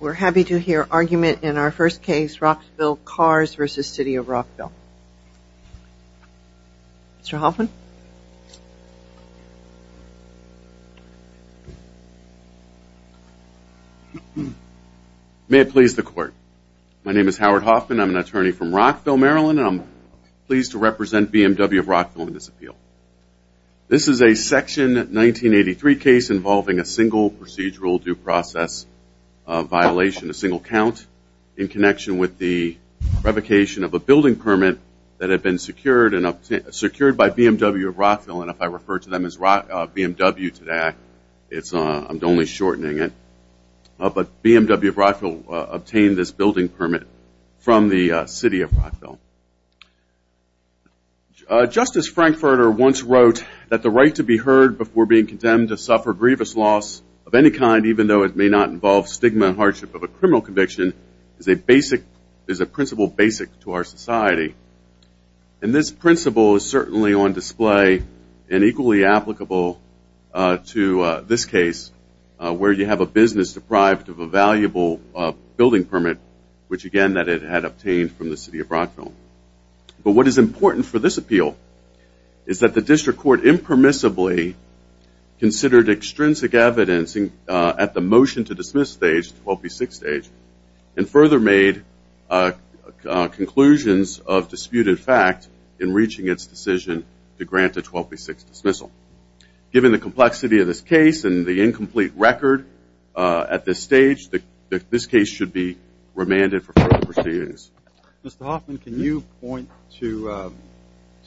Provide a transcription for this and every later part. We're happy to hear argument in our first case, Rockville Cars v. City of Rockville. Mr. Hoffman? May it please the court. My name is Howard Hoffman. I'm an attorney from Rockville, Maryland. I'm pleased to represent BMW of Rockville in this appeal. This is a Section 1983 case involving a single procedural due process violation, a single count, in connection with the revocation of a building permit that had been secured by BMW of Rockville. And if I refer to them as BMW today, I'm only shortening it. But BMW of Rockville obtained this building permit from the City of Rockville. Justice Frankfurter once wrote that the right to be heard before being condemned to suffer grievous loss of any kind, even though it may not involve stigma and hardship of a criminal conviction, is a principle basic to our society. And this principle is certainly on display and equally applicable to this case, where you have a business deprived of a valuable building permit, which again that it had obtained from the City of Rockville. But what is important for this appeal is that the district court impermissibly considered extrinsic evidence at the motion to dismiss stage, 12B6 stage, and further made conclusions of disputed fact in reaching its decision to grant a 12B6 dismissal. Given the complexity of this case and the incomplete record at this stage, this case should be remanded for further proceedings. Mr. Hoffman, can you point to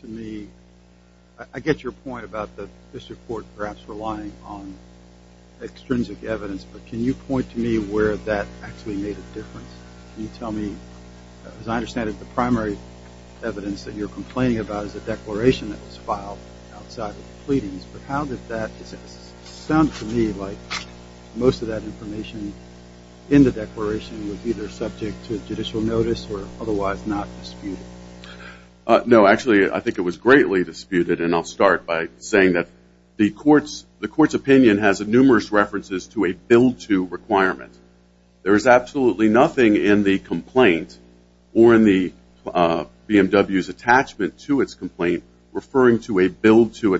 me – I get your point about the district court perhaps relying on extrinsic evidence, but can you point to me where that actually made a difference? You tell me, as I understand it, the primary evidence that you're complaining about is the declaration that was filed outside of the pleadings, but how did that – it sounded to me like most of that information in the declaration was either subject to judicial notice or otherwise not disputed. No, actually I think it was greatly disputed, and I'll start by saying that the court's opinion has numerous references to a billed-to requirement. There is absolutely nothing in the complaint or in the BMW's attachment to its complaint referring to a billed-to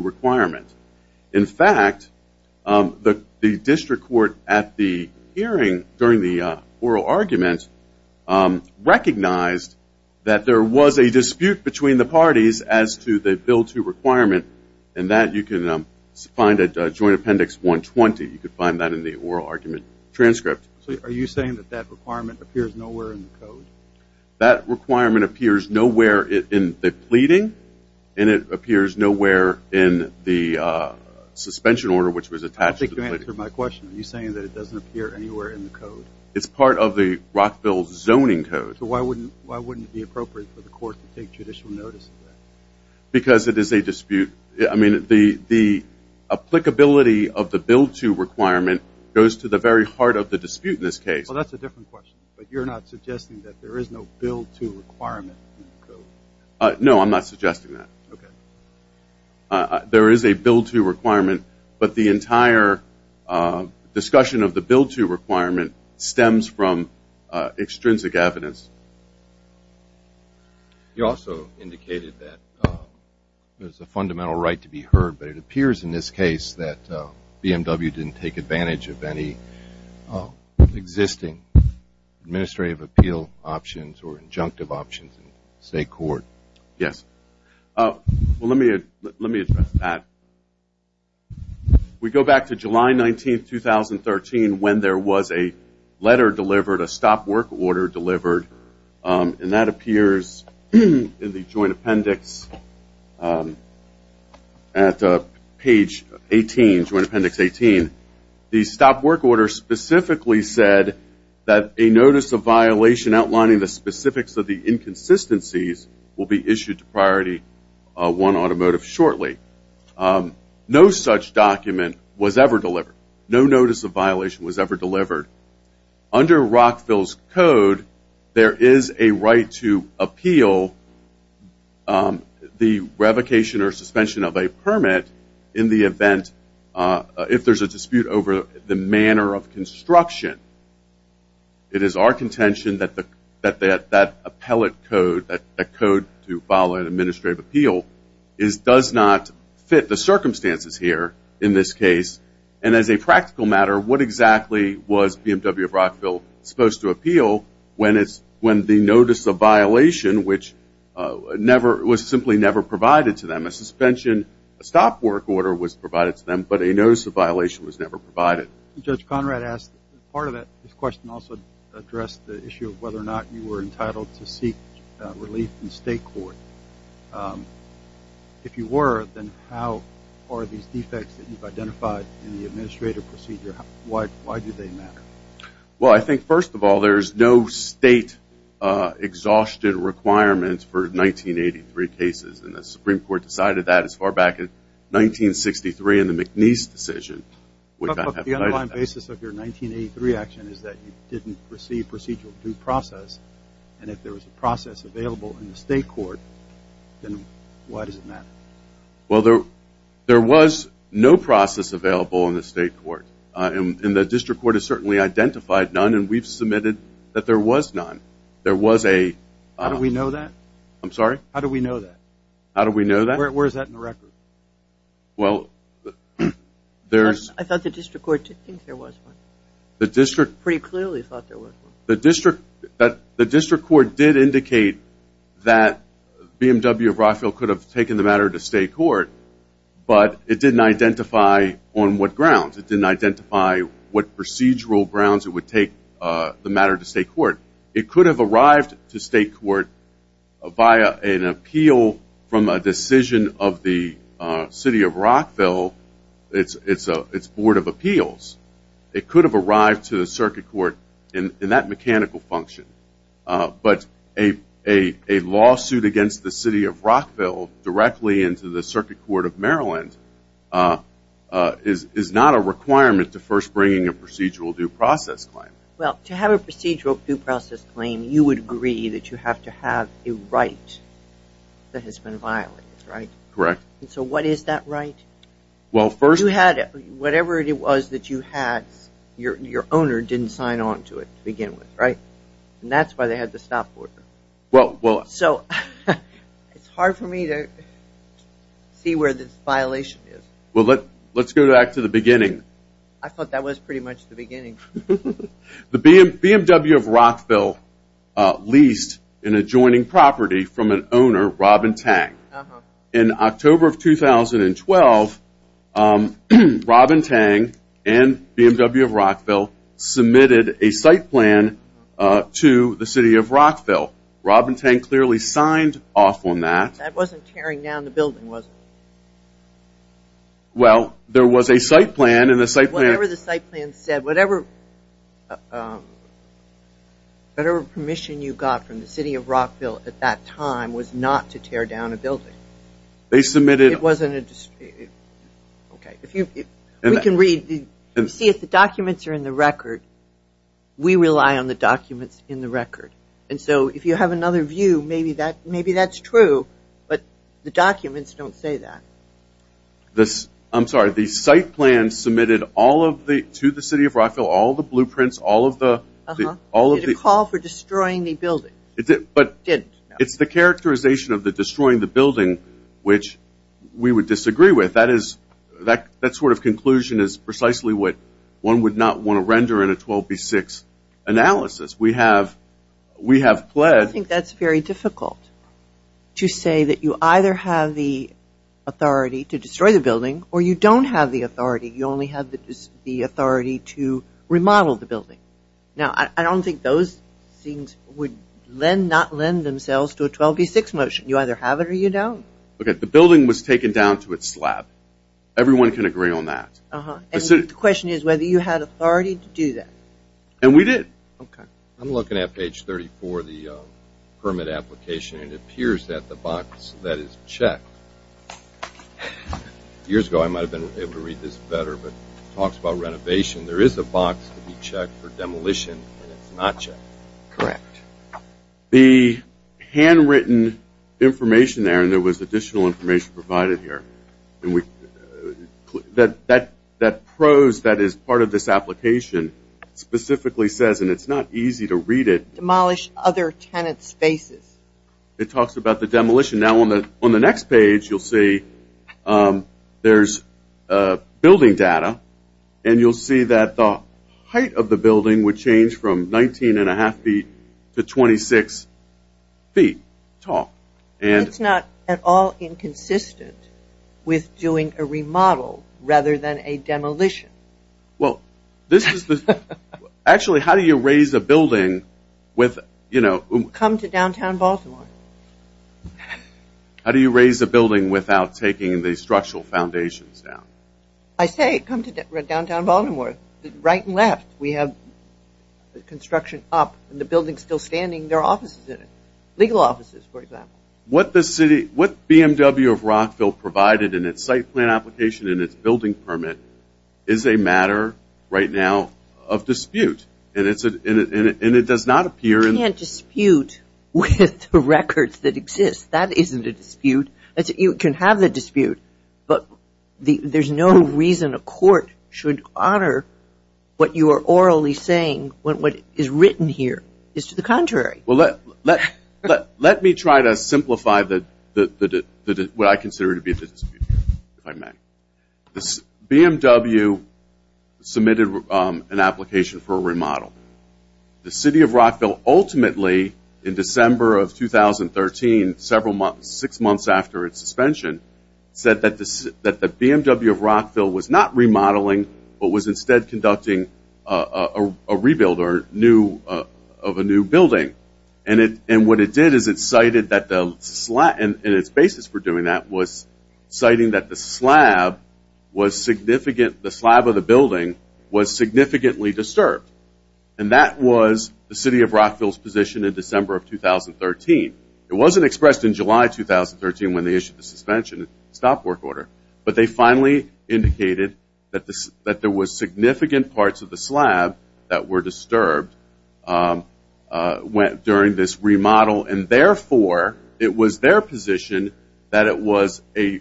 requirement. In fact, the district court at the hearing during the oral argument recognized that there was a dispute between the parties as to the billed-to requirement, and that you can find at Joint Appendix 120. You can find that in the oral argument transcript. So are you saying that that requirement appears nowhere in the code? That requirement appears nowhere in the pleading, and it appears nowhere in the suspension order which was attached to the pleading. I think you answered my question. Are you saying that it doesn't appear anywhere in the code? It's part of the Rockville zoning code. So why wouldn't it be appropriate for the court to take judicial notice of that? Because it is a dispute. I mean, the applicability of the billed-to requirement goes to the very heart of the dispute in this case. Well, that's a different question, but you're not suggesting that there is no billed-to requirement in the code? No, I'm not suggesting that. Okay. There is a billed-to requirement, but the entire discussion of the billed-to requirement stems from extrinsic evidence. You also indicated that there's a fundamental right to be heard, but it appears in this case that BMW didn't take advantage of any existing administrative appeal options or injunctive options in state court. Yes. Well, let me address that. We go back to July 19, 2013, when there was a letter delivered, a stop work order delivered, and that appears in the Joint Appendix at page 18, Joint Appendix 18. The stop work order specifically said that a notice of violation outlining the specifics of the inconsistencies will be issued to Priority 1 Automotive shortly. No such document was ever delivered. No notice of violation was ever delivered. Under Rockville's code, there is a right to appeal the revocation or suspension of a permit in the event, if there's a dispute over the manner of construction. It is our contention that that appellate code, that code to file an administrative appeal, does not fit the circumstances here in this case. And as a practical matter, what exactly was BMW of Rockville supposed to appeal when the notice of violation was simply never provided to them? A suspension stop work order was provided to them, but a notice of violation was never provided. Judge Conrad asked, part of that question also addressed the issue of whether or not you were entitled to seek relief in state court. If you were, then how are these defects that you've identified in the administrative procedure, why do they matter? Well, I think, first of all, there's no state exhaustion requirements for 1983 cases, and the Supreme Court decided that as far back as 1963 in the McNeese decision. But the underlying basis of your 1983 action is that you didn't receive procedural due process, and if there was a process available in the state court, then why does it matter? Well, there was no process available in the state court, and the district court has certainly identified none, and we've submitted that there was none. How do we know that? I'm sorry? How do we know that? How do we know that? Where is that in the record? Well, there's... I thought the district court did think there was one. The district... Pretty clearly thought there was one. The district court did indicate that BMW of Rockville could have taken the matter to state court, but it didn't identify on what grounds. It didn't identify what procedural grounds it would take the matter to state court. It could have arrived to state court via an appeal from a decision of the city of Rockville, its board of appeals. It could have arrived to the circuit court in that mechanical function, but a lawsuit against the city of Rockville directly into the Circuit Court of Maryland is not a requirement to first bring in a procedural due process claim. Well, to have a procedural due process claim, you would agree that you have to have a right that has been violated, right? Correct. And so what is that right? Well, first... You had it. Whatever it was that you had, your owner didn't sign on to it to begin with, right? And that's why they had the stop order. Well, well... So it's hard for me to see where this violation is. Well, let's go back to the beginning. I thought that was pretty much the beginning. The BMW of Rockville leased an adjoining property from an owner, Robin Tang. In October of 2012, Robin Tang and BMW of Rockville submitted a site plan to the city of Rockville. Robin Tang clearly signed off on that. That wasn't tearing down the building, was it? Well, there was a site plan, and the site plan... Whatever the site plan said, whatever permission you got from the city of Rockville at that time was not to tear down a building. They submitted... It wasn't a... Okay, if you... We can read... See, if the documents are in the record, we rely on the documents in the record. And so if you have another view, maybe that's true, but the documents don't say that. I'm sorry. The site plan submitted to the city of Rockville all the blueprints, all of the... It didn't call for destroying the building. But it's the characterization of the destroying the building which we would disagree with. That sort of conclusion is precisely what one would not want to render in a 12B6 analysis. We have pledged... I think that's very difficult to say that you either have the authority to destroy the building or you don't have the authority. You only have the authority to remodel the building. Now, I don't think those things would not lend themselves to a 12B6 motion. You either have it or you don't. Okay, the building was taken down to its slab. Everyone can agree on that. And the question is whether you had authority to do that. And we did. Okay. I'm looking at page 34 of the permit application, and it appears that the box that is checked... Years ago, I might have been able to read this better, but it talks about renovation. There is a box to be checked for demolition, and it's not checked. Correct. The handwritten information there, and there was additional information provided here, that prose that is part of this application specifically says, and it's not easy to read it... Demolish other tenant spaces. It talks about the demolition. Now, on the next page, you'll see there's building data, and you'll see that the height of the building would change from 19.5 feet to 26 feet tall. And it's not at all inconsistent with doing a remodel rather than a demolition. Well, this is the... Actually, how do you raise a building with, you know... Come to downtown Baltimore. How do you raise a building without taking the structural foundations down? I say come to downtown Baltimore. Right and left, we have construction up, and the building's still standing. Legal offices, for example. What BMW of Rockville provided in its site plan application and its building permit is a matter right now of dispute, and it does not appear... You can't dispute with the records that exist. That isn't a dispute. You can have the dispute, but there's no reason a court should honor what you are orally saying when what is written here is to the contrary. Well, let me try to simplify what I consider to be a dispute, if I may. BMW submitted an application for a remodel. The city of Rockville ultimately, in December of 2013, six months after its suspension, said that the BMW of Rockville was not remodeling but was instead conducting a rebuild of a new building. And what it did is it cited that the slab, and its basis for doing that, was citing that the slab of the building was significantly disturbed. And that was the city of Rockville's position in December of 2013. It wasn't expressed in July 2013 when they issued the suspension stop work order, but they finally indicated that there were significant parts of the slab that were disturbed during this remodel, and therefore it was their position that it was a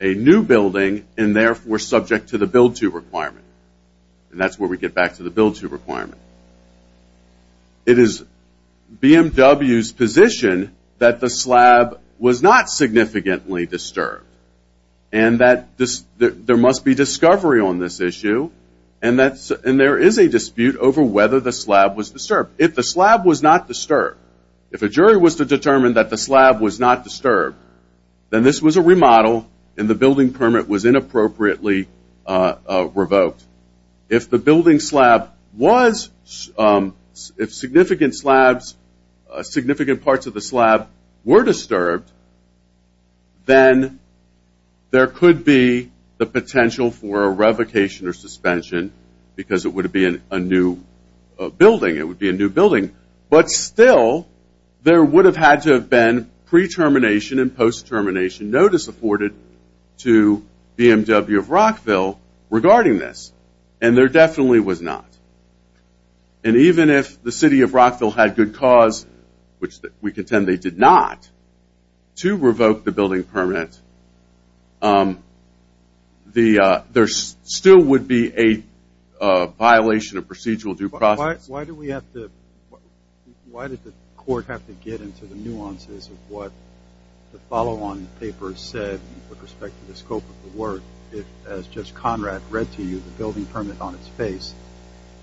new building and therefore subject to the build-to requirement. And that's where we get back to the build-to requirement. It is BMW's position that the slab was not significantly disturbed and that there must be discovery on this issue, and there is a dispute over whether the slab was disturbed. If the slab was not disturbed, if a jury was to determine that the slab was not disturbed, then this was a remodel and the building permit was inappropriately revoked. If significant parts of the slab were disturbed, then there could be the potential for a revocation or suspension because it would be a new building. But still, there would have had to have been pre-termination and post-termination notice to BMW of Rockville regarding this, and there definitely was not. And even if the city of Rockville had good cause, which we contend they did not, to revoke the building permit, there still would be a violation of procedural due process. Why did the court have to get into the nuances of what the follow-on paper said with respect to the scope of the work if, as Judge Conrad read to you, the building permit on its face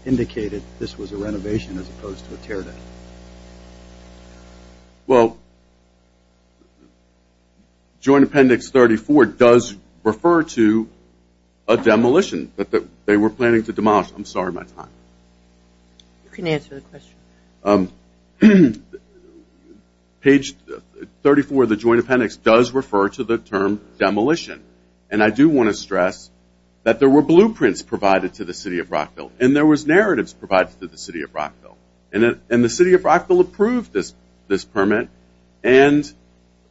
indicated this was a renovation as opposed to a tear-down? Well, Joint Appendix 34 does refer to a demolition. But they were planning to demolish. I'm sorry, my time. You can answer the question. Page 34 of the Joint Appendix does refer to the term demolition. And I do want to stress that there were blueprints provided to the city of Rockville and there was narratives provided to the city of Rockville. And the city of Rockville approved this permit, and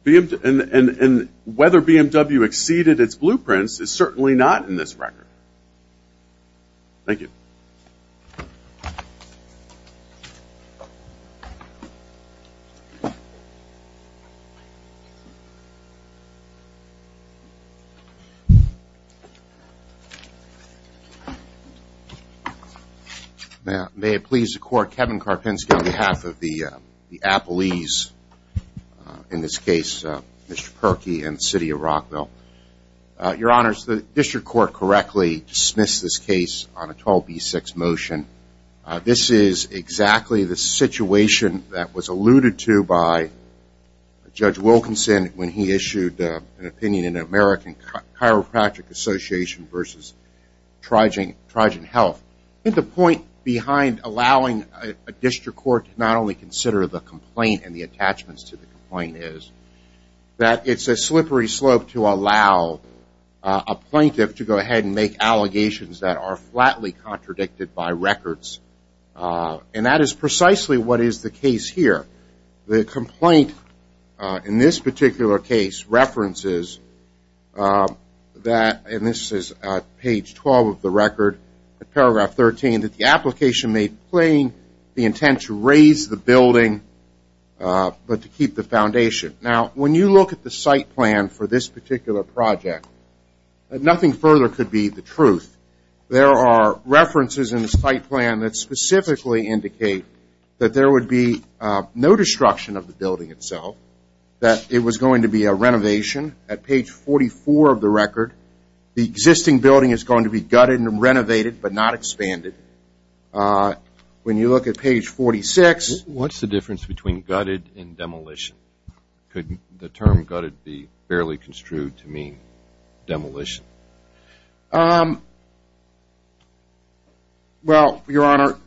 whether BMW exceeded its blueprints is certainly not in this record. Thank you. Thank you. May it please the Court, Kevin Karpinski on behalf of the Appellees, in this case Mr. Perkey and the city of Rockville. Your Honors, the district court correctly dismissed this case on a 12B6 motion. This is exactly the situation that was alluded to by Judge Wilkinson when he issued an opinion in American Chiropractic Association versus Trigen Health. I think the point behind allowing a district court to not only consider the complaint and the attachments to the complaint is that it's a slippery slope to allow a plaintiff to go ahead and make allegations that are flatly contradicted by records. And that is precisely what is the case here. The complaint in this particular case references that, and this is page 12 of the record, paragraph 13, that the application made plain the intent to raise the building but to keep the foundation. Now, when you look at the site plan for this particular project, nothing further could be the truth. There are references in the site plan that specifically indicate that there would be no destruction of the building itself, that it was going to be a renovation at page 44 of the record. The existing building is going to be gutted and renovated but not expanded. When you look at page 46. What's the difference between gutted and demolition? Could the term gutted be fairly construed to mean demolition? Well, Your Honor,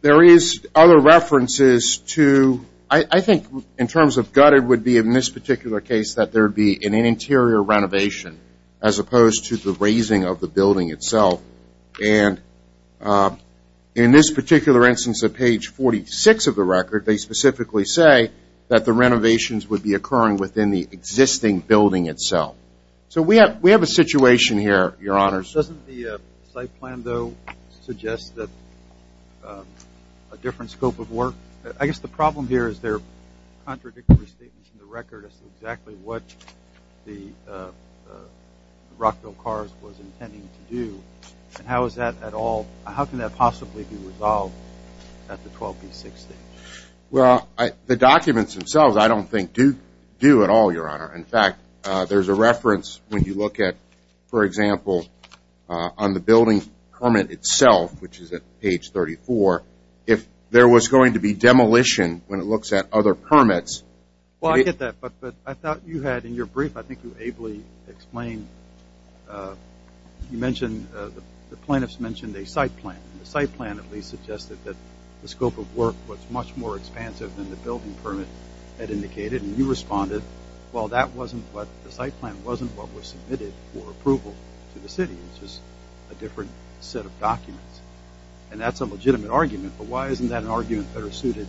there is other references to, I think in terms of gutted would be in this particular case that there would be an interior renovation as opposed to the raising of the building itself. And in this particular instance of page 46 of the record, they specifically say that the renovations would be occurring within the existing building itself. So we have a situation here, Your Honor. Doesn't the site plan, though, suggest that a different scope of work? I guess the problem here is there are contradictory statements in the record as to exactly what the Rockville Cars was intending to do. How can that possibly be resolved at the 12B6 stage? Well, the documents themselves I don't think do at all, Your Honor. In fact, there's a reference when you look at, for example, on the building permit itself, which is at page 34, if there was going to be demolition when it looks at other permits. Well, I get that, but I thought you had in your brief, I think you ably explained, you mentioned the plaintiffs mentioned a site plan, and the site plan at least suggested that the scope of work was much more expansive than the building permit had indicated. And you responded, well, the site plan wasn't what was submitted for approval to the city. It was just a different set of documents. And that's a legitimate argument, but why isn't that argument better suited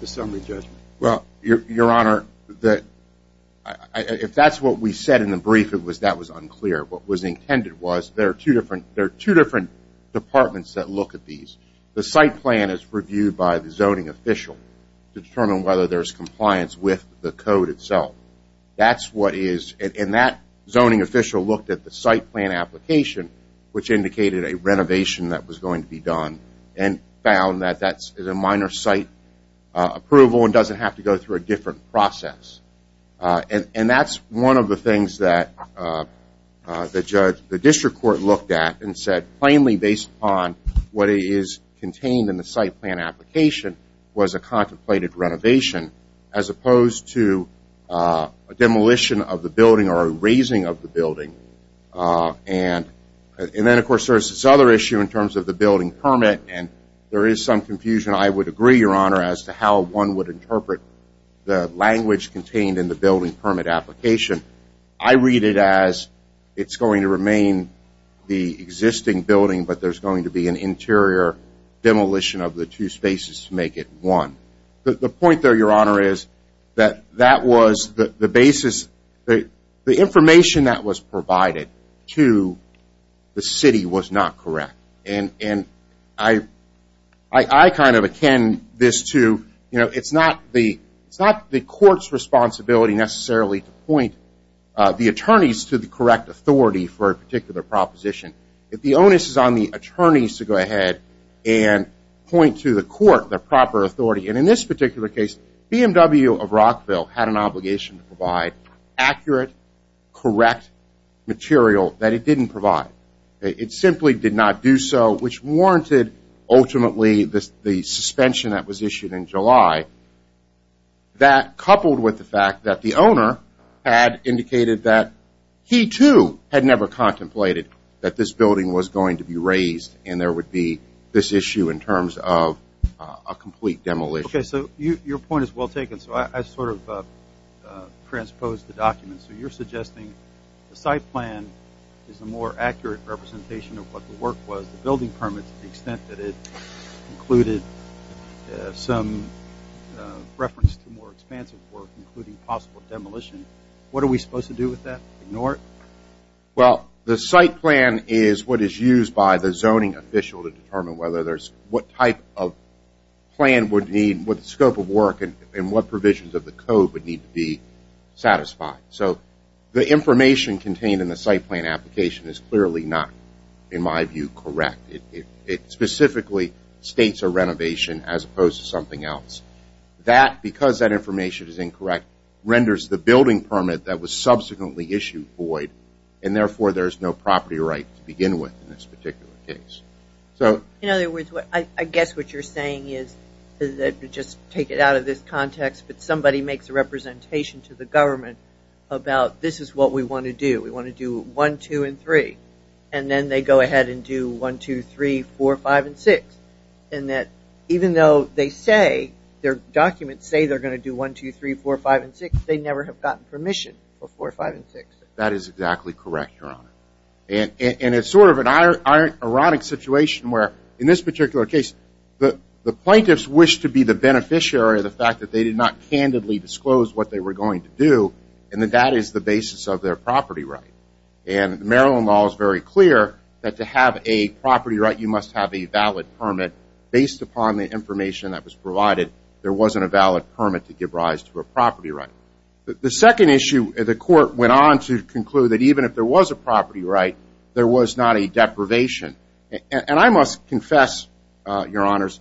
to summary judgment? Well, Your Honor, if that's what we said in the brief, that was unclear. What was intended was there are two different departments that look at these. The site plan is reviewed by the zoning official to determine whether there's compliance with the code itself. And that zoning official looked at the site plan application, which indicated a renovation that was going to be done and found that that's a minor site approval and doesn't have to go through a different process. And that's one of the things that the district court looked at and said plainly based upon what is contained in the site plan application was a contemplated renovation as opposed to a demolition of the building or erasing of the building. And then, of course, there's this other issue in terms of the building permit. And there is some confusion, I would agree, Your Honor, as to how one would interpret the language contained in the building permit application. I read it as it's going to remain the existing building, but there's going to be an interior demolition of the two spaces to make it one. The point there, Your Honor, is that that was the basis. The information that was provided to the city was not correct. And I kind of akin this to it's not the court's responsibility necessarily to point the attorneys to the correct authority for a particular proposition. If the onus is on the attorneys to go ahead and point to the court the proper authority. And in this particular case, BMW of Rockville had an obligation to provide accurate, correct material that it didn't provide. It simply did not do so, which warranted ultimately the suspension that was issued in July. That coupled with the fact that the owner had indicated that he, too, had never contemplated that this building was going to be raised and there would be this issue in terms of a complete demolition. Okay, so your point is well taken. So I sort of transposed the document. So you're suggesting the site plan is a more accurate representation of what the work was, the building permit to the extent that it included some reference to more expansive work, including possible demolition. What are we supposed to do with that? Ignore it? Well, the site plan is what is used by the zoning official to determine what type of plan would need, what scope of work, and what provisions of the code would need to be satisfied. So the information contained in the site plan application is clearly not, in my view, correct. It specifically states a renovation as opposed to something else. Because that information is incorrect, renders the building permit that was subsequently issued void, and therefore there is no property right to begin with in this particular case. In other words, I guess what you're saying is, just take it out of this context, but somebody makes a representation to the government about this is what we want to do. We want to do 1, 2, and 3. And then they go ahead and do 1, 2, 3, 4, 5, and 6. And that even though they say, their documents say they're going to do 1, 2, 3, 4, 5, and 6, they never have gotten permission for 4, 5, and 6. That is exactly correct, Your Honor. And it's sort of an ironic situation where, in this particular case, the plaintiffs wish to be the beneficiary of the fact that they did not candidly disclose what they were going to do, and that that is the basis of their property right. And the Maryland law is very clear that to have a property right, you must have a valid permit based upon the information that was provided. There wasn't a valid permit to give rise to a property right. The second issue, the court went on to conclude that even if there was a property right, there was not a deprivation. And I must confess, Your Honors,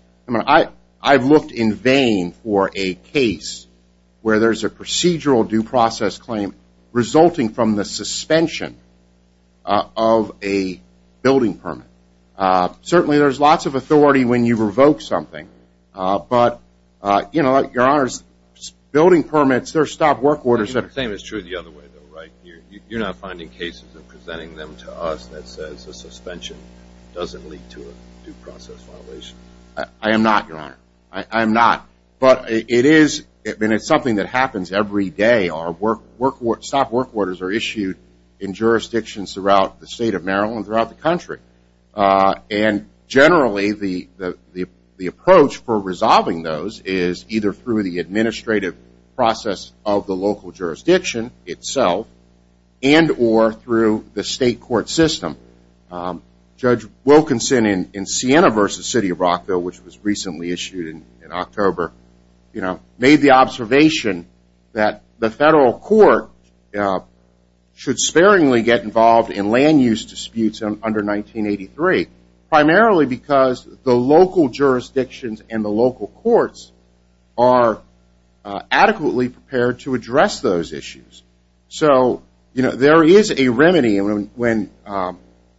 I've looked in vain for a case where there's a procedural due process claim resulting from the suspension of a building permit. Certainly, there's lots of authority when you revoke something. But, you know, Your Honors, building permits, they're stop work orders. The same is true the other way, though, right? You're not finding cases and presenting them to us that says a suspension doesn't lead to a due process violation? I am not, Your Honor. I am not. But it is something that happens every day. Our stop work orders are issued in jurisdictions throughout the state of Maryland, throughout the country. And generally, the approach for resolving those is either through the administrative process of the local jurisdiction itself and or through the state court system. Judge Wilkinson in Siena v. City of Rockville, which was recently issued in October, made the observation that the federal court should sparingly get involved in land use disputes under 1983, primarily because the local jurisdictions and the local courts are adequately prepared to address those issues. So, you know, there is a remedy when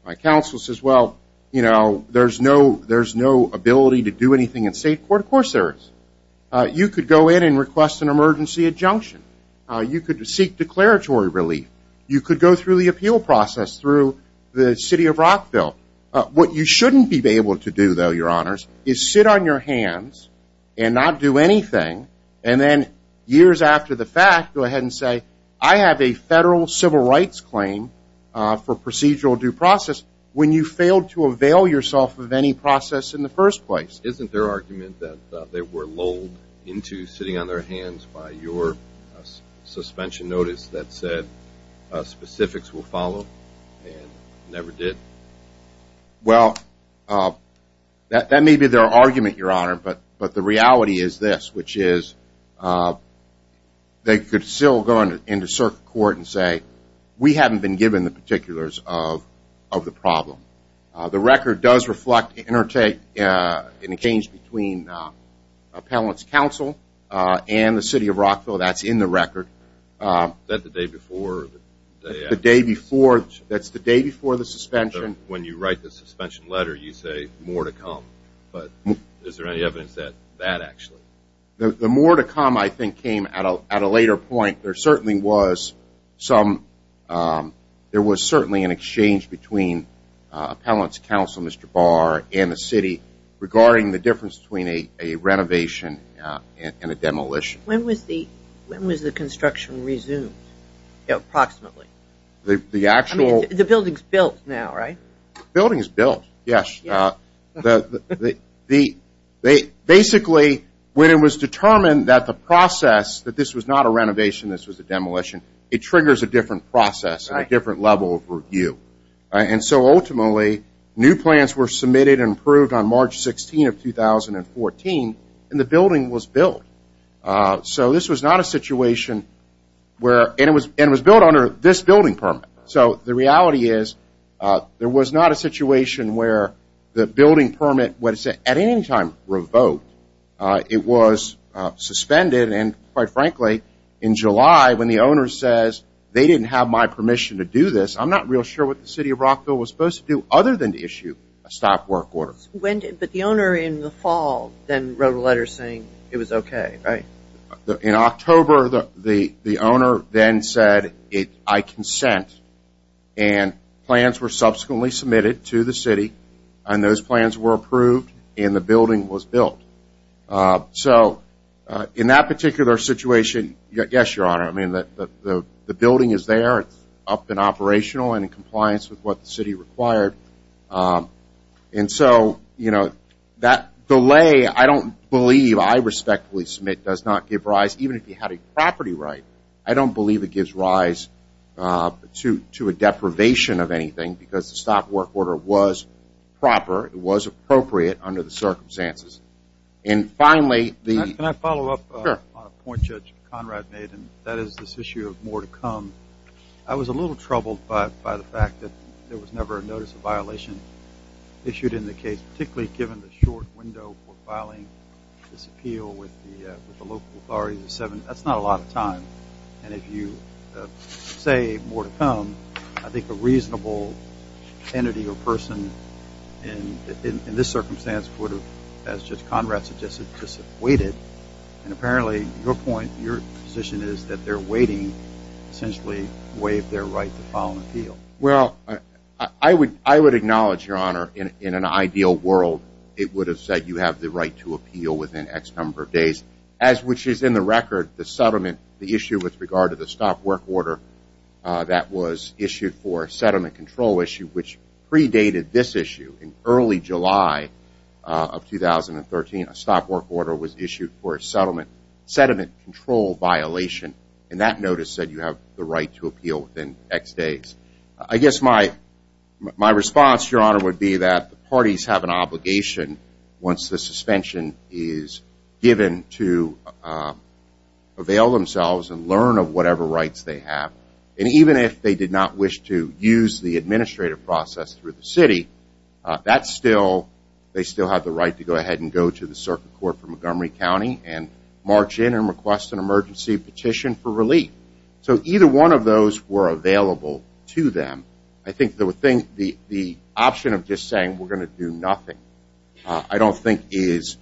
my counsel says, well, you know, there's no ability to do anything in state court. Of course there is. You could go in and request an emergency adjunction. You could seek declaratory relief. You could go through the appeal process through the City of Rockville. What you shouldn't be able to do, though, Your Honors, is sit on your hands and not do anything, and then years after the fact go ahead and say, I have a federal civil rights claim for procedural due process, when you failed to avail yourself of any process in the first place. Isn't there argument that they were lulled into sitting on their hands by your suspension notice that said, specifics will follow and never did? Well, that may be their argument, Your Honor, but the reality is this, which is they could still go into circuit court and say, we haven't been given the particulars of the problem. The record does reflect an interchange between appellate's counsel and the City of Rockville. That's in the record. Is that the day before? That's the day before the suspension. When you write the suspension letter, you say, more to come. But is there any evidence of that, actually? The more to come, I think, came at a later point. There was certainly an exchange between appellate's counsel, Mr. Barr, and the City, regarding the difference between a renovation and a demolition. When was the construction resumed, approximately? I mean, the building is built now, right? The building is built, yes. Basically, when it was determined that the process, that this was not a renovation, this was a demolition, it triggers a different process and a different level of review. Ultimately, new plans were submitted and approved on March 16 of 2014, and the building was built. This was not a situation where it was built under this building permit. The reality is there was not a situation where the building permit was at any time revoked. It was suspended, and quite frankly, in July, when the owner says they didn't have my permission to do this, I'm not real sure what the City of Rockville was supposed to do other than issue a stop work order. But the owner in the fall then wrote a letter saying it was okay, right? In October, the owner then said, I consent. And plans were subsequently submitted to the City, and those plans were approved, and the building was built. So in that particular situation, yes, Your Honor, I mean, the building is there. It's up and operational and in compliance with what the City required. And so, you know, that delay I don't believe I respectfully submit does not give rise, even if you had a property right. I don't believe it gives rise to a deprivation of anything because the stop work order was proper. It was appropriate under the circumstances. Can I follow up on a point Judge Conrad made? And that is this issue of more to come. I was a little troubled by the fact that there was never a notice of violation issued in the case, particularly given the short window for filing this appeal with the local authorities. That's not a lot of time. And if you say more to come, I think a reasonable entity or person in this circumstance would have, as Judge Conrad suggested, just waited. And apparently, your point, your position is that they're waiting essentially to waive their right to file an appeal. Well, I would acknowledge, Your Honor, in an ideal world, it would have said you have the right to appeal within X number of days, as which is in the record, the settlement, the issue with regard to the stop work order that was issued for a settlement control issue, which predated this issue in early July of 2013. A stop work order was issued for a settlement control violation. And that notice said you have the right to appeal within X days. I guess my response, Your Honor, would be that the parties have an obligation, once the suspension is given, to avail themselves and learn of whatever rights they have. And even if they did not wish to use the administrative process through the city, they still have the right to go ahead and go to the circuit court for Montgomery County and march in and request an emergency petition for relief. So either one of those were available to them. I think the option of just saying we're going to do nothing, I don't think is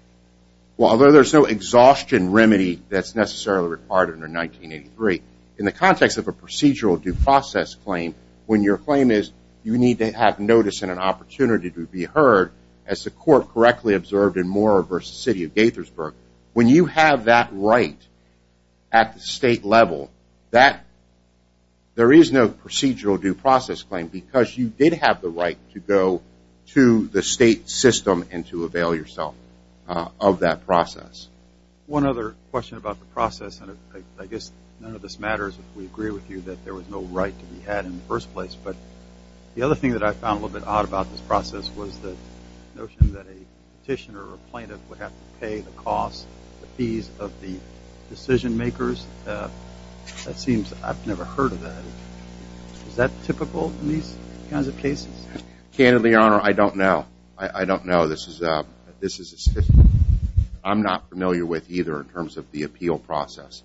– well, although there's no exhaustion remedy that's necessarily required under 1983, in the context of a procedural due process claim, when your claim is you need to have notice and an opportunity to be heard, as the court correctly observed in Moore v. City of Gaithersburg, when you have that right at the state level, there is no procedural due process claim because you did have the right to go to the state system and to avail yourself of that process. One other question about the process, and I guess none of this matters if we agree with you, that there was no right to be had in the first place. But the other thing that I found a little bit odd about this process was the notion that a petitioner or plaintiff would have to pay the costs, the fees of the decision makers. That seems – I've never heard of that. Is that typical in these kinds of cases? Candidly, Your Honor, I don't know. I don't know. This is – I'm not familiar with either in terms of the appeal process.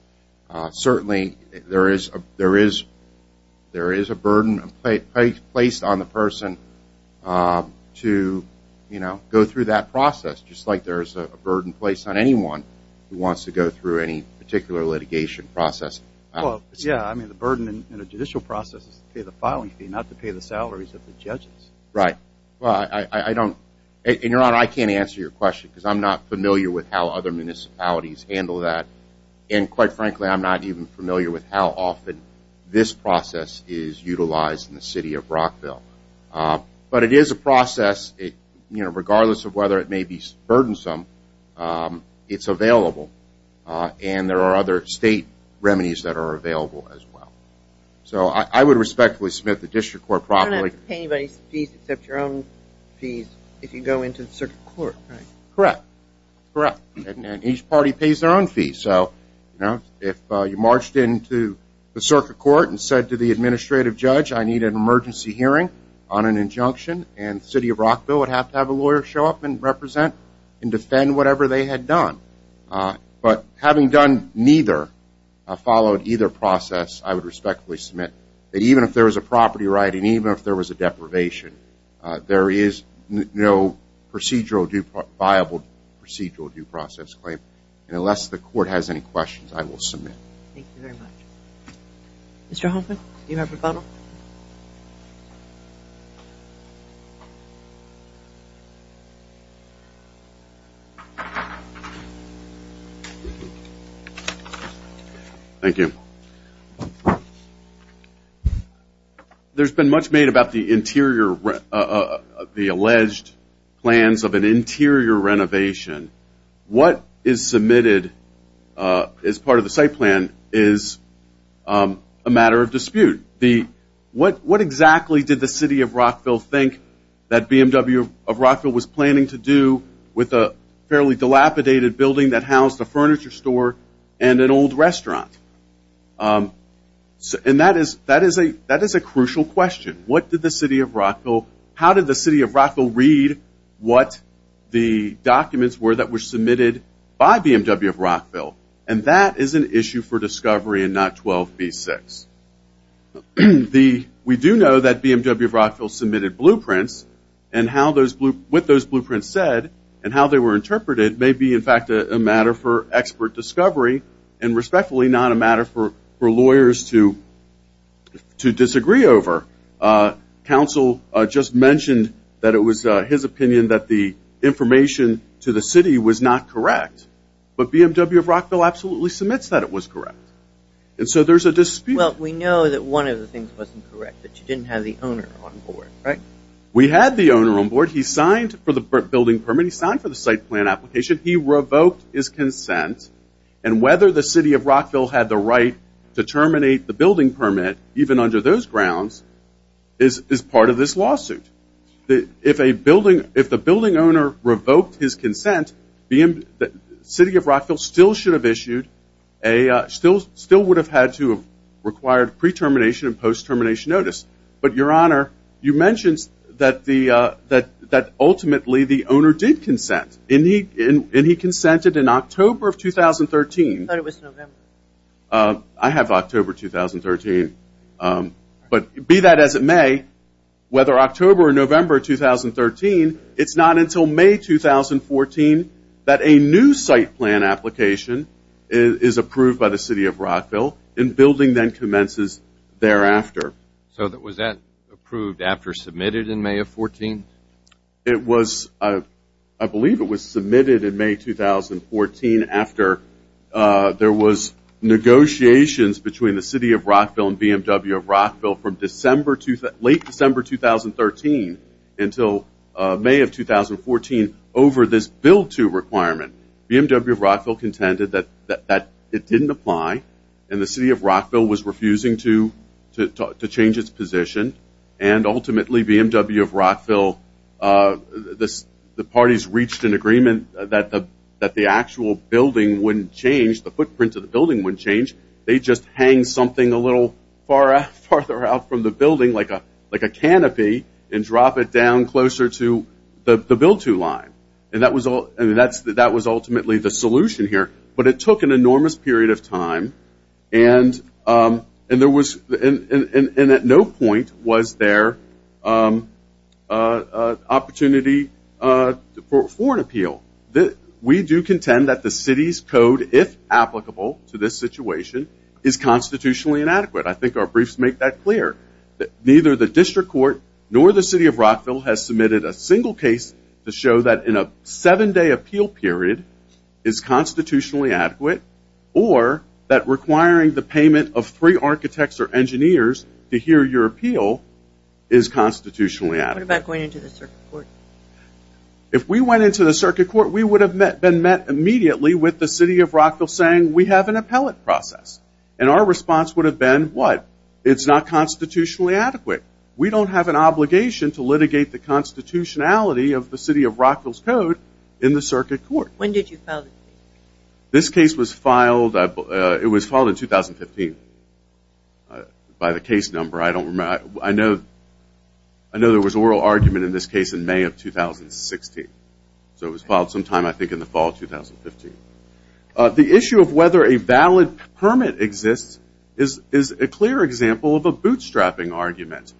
Certainly, there is a burden placed on the person to go through that process, just like there is a burden placed on anyone who wants to go through any particular litigation process. Yeah, I mean, the burden in a judicial process is to pay the filing fee, not to pay the salaries of the judges. Right. Well, I don't – and, Your Honor, I can't answer your question because I'm not familiar with how other municipalities handle that. And, quite frankly, I'm not even familiar with how often this process is utilized in the city of Rockville. But it is a process. Regardless of whether it may be burdensome, it's available. And there are other state remedies that are available as well. So I would respectfully submit to the district court properly. You can't pay anybody's fees except your own fees if you go into the circuit court, right? Correct. Correct. And each party pays their own fees. So, you know, if you marched into the circuit court and said to the administrative judge, I need an emergency hearing on an injunction, and the city of Rockville would have to have a lawyer show up and represent and defend whatever they had done. But having done neither, followed either process, I would respectfully submit that even if there was a property right and even if there was a deprivation, there is no viable procedural due process claim. And unless the court has any questions, I will submit. Thank you very much. Mr. Hoffman, do you have a follow-up? Thank you. There's been much made about the interior, the alleged plans of an interior renovation. What is submitted as part of the site plan is a matter of dispute. What exactly did the city of Rockville think that BMW of Rockville was planning to do with a fairly dilapidated building that housed a furniture store and an old restaurant? And that is a crucial question. How did the city of Rockville read what the documents were that were submitted by BMW of Rockville? And that is an issue for discovery and not 12b-6. We do know that BMW of Rockville submitted blueprints, and what those blueprints said and how they were interpreted may be, in fact, a matter for expert discovery and respectfully not a matter for lawyers to disagree over. Council just mentioned that it was his opinion that the information to the city was not correct, but BMW of Rockville absolutely submits that it was correct. And so there's a dispute. Well, we know that one of the things wasn't correct, that you didn't have the owner on board, right? We had the owner on board. He signed for the building permit. He signed for the site plan application. He revoked his consent, and whether the city of Rockville had the right to terminate the building permit, even under those grounds, is part of this lawsuit. If the building owner revoked his consent, the city of Rockville still would have had to have required pre-termination and post-termination notice. But, Your Honor, you mentioned that ultimately the owner did consent, and he consented in October of 2013. I thought it was November. I have October 2013, but be that as it may, whether October or November 2013, it's not until May 2014 that a new site plan application is approved by the city of Rockville, and building then commences thereafter. So was that approved after submitted in May of 2014? I believe it was submitted in May 2014 after there was negotiations between the city of Rockville and BMW of Rockville from late December 2013 until May of 2014 over this Bill 2 requirement. BMW of Rockville contended that it didn't apply, and the city of Rockville was refusing to change its position, and ultimately BMW of Rockville, the parties reached an agreement that the actual building wouldn't change, the footprint of the building wouldn't change. They'd just hang something a little farther out from the building, like a canopy, and drop it down closer to the Bill 2 line. And that was ultimately the solution here, but it took an enormous period of time, and at no point was there opportunity for an appeal. We do contend that the city's code, if applicable to this situation, is constitutionally inadequate. I think our briefs make that clear. Neither the district court nor the city of Rockville has submitted a single case to show that in a seven-day appeal period is constitutionally adequate, or that requiring the payment of three architects or engineers to hear your appeal is constitutionally adequate. What about going into the circuit court? If we went into the circuit court, we would have been met immediately with the city of Rockville saying, we have an appellate process. And our response would have been, what? It's not constitutionally adequate. We don't have an obligation to litigate the constitutionality of the city of Rockville's code in the circuit court. When did you file this case? This case was filed in 2015. By the case number, I don't remember. I know there was an oral argument in this case in May of 2016. So it was filed sometime, I think, in the fall of 2015. The issue of whether a valid permit exists is a clear example of a bootstrapping argument.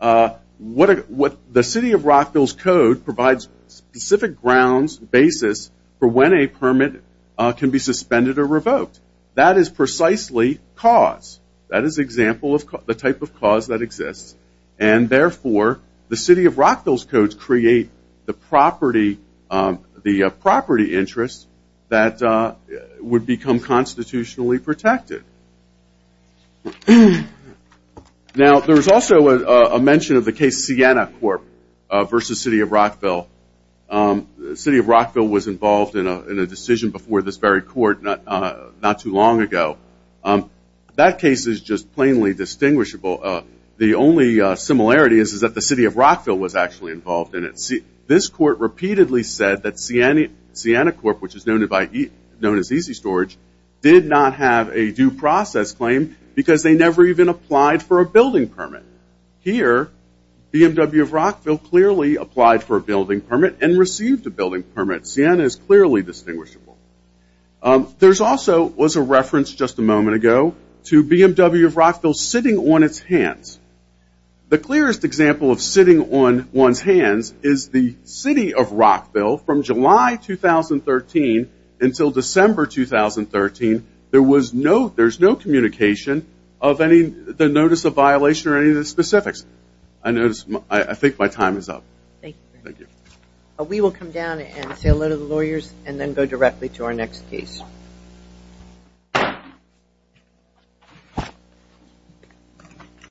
The city of Rockville's code provides specific grounds, basis, for when a permit can be suspended or revoked. That is precisely cause. That is an example of the type of cause that exists. And therefore, the city of Rockville's codes create the property interest that would become constitutionally protected. Now, there's also a mention of the case Siena Corp. versus city of Rockville. The city of Rockville was involved in a decision before this very court not too long ago. That case is just plainly distinguishable. The only similarity is that the city of Rockville was actually involved in it. This court repeatedly said that Siena Corp., which is known as Easy Storage, did not have a due process claim because they never even applied for a building permit. Here, BMW of Rockville clearly applied for a building permit and received a building permit. Siena is clearly distinguishable. There also was a reference just a moment ago to BMW of Rockville sitting on its hands. The clearest example of sitting on one's hands is the city of Rockville from July 2013 until December 2013. There was no communication of the notice of violation or any of the specifics. I think my time is up. We will come down and say hello to the lawyers and then go directly to our next case.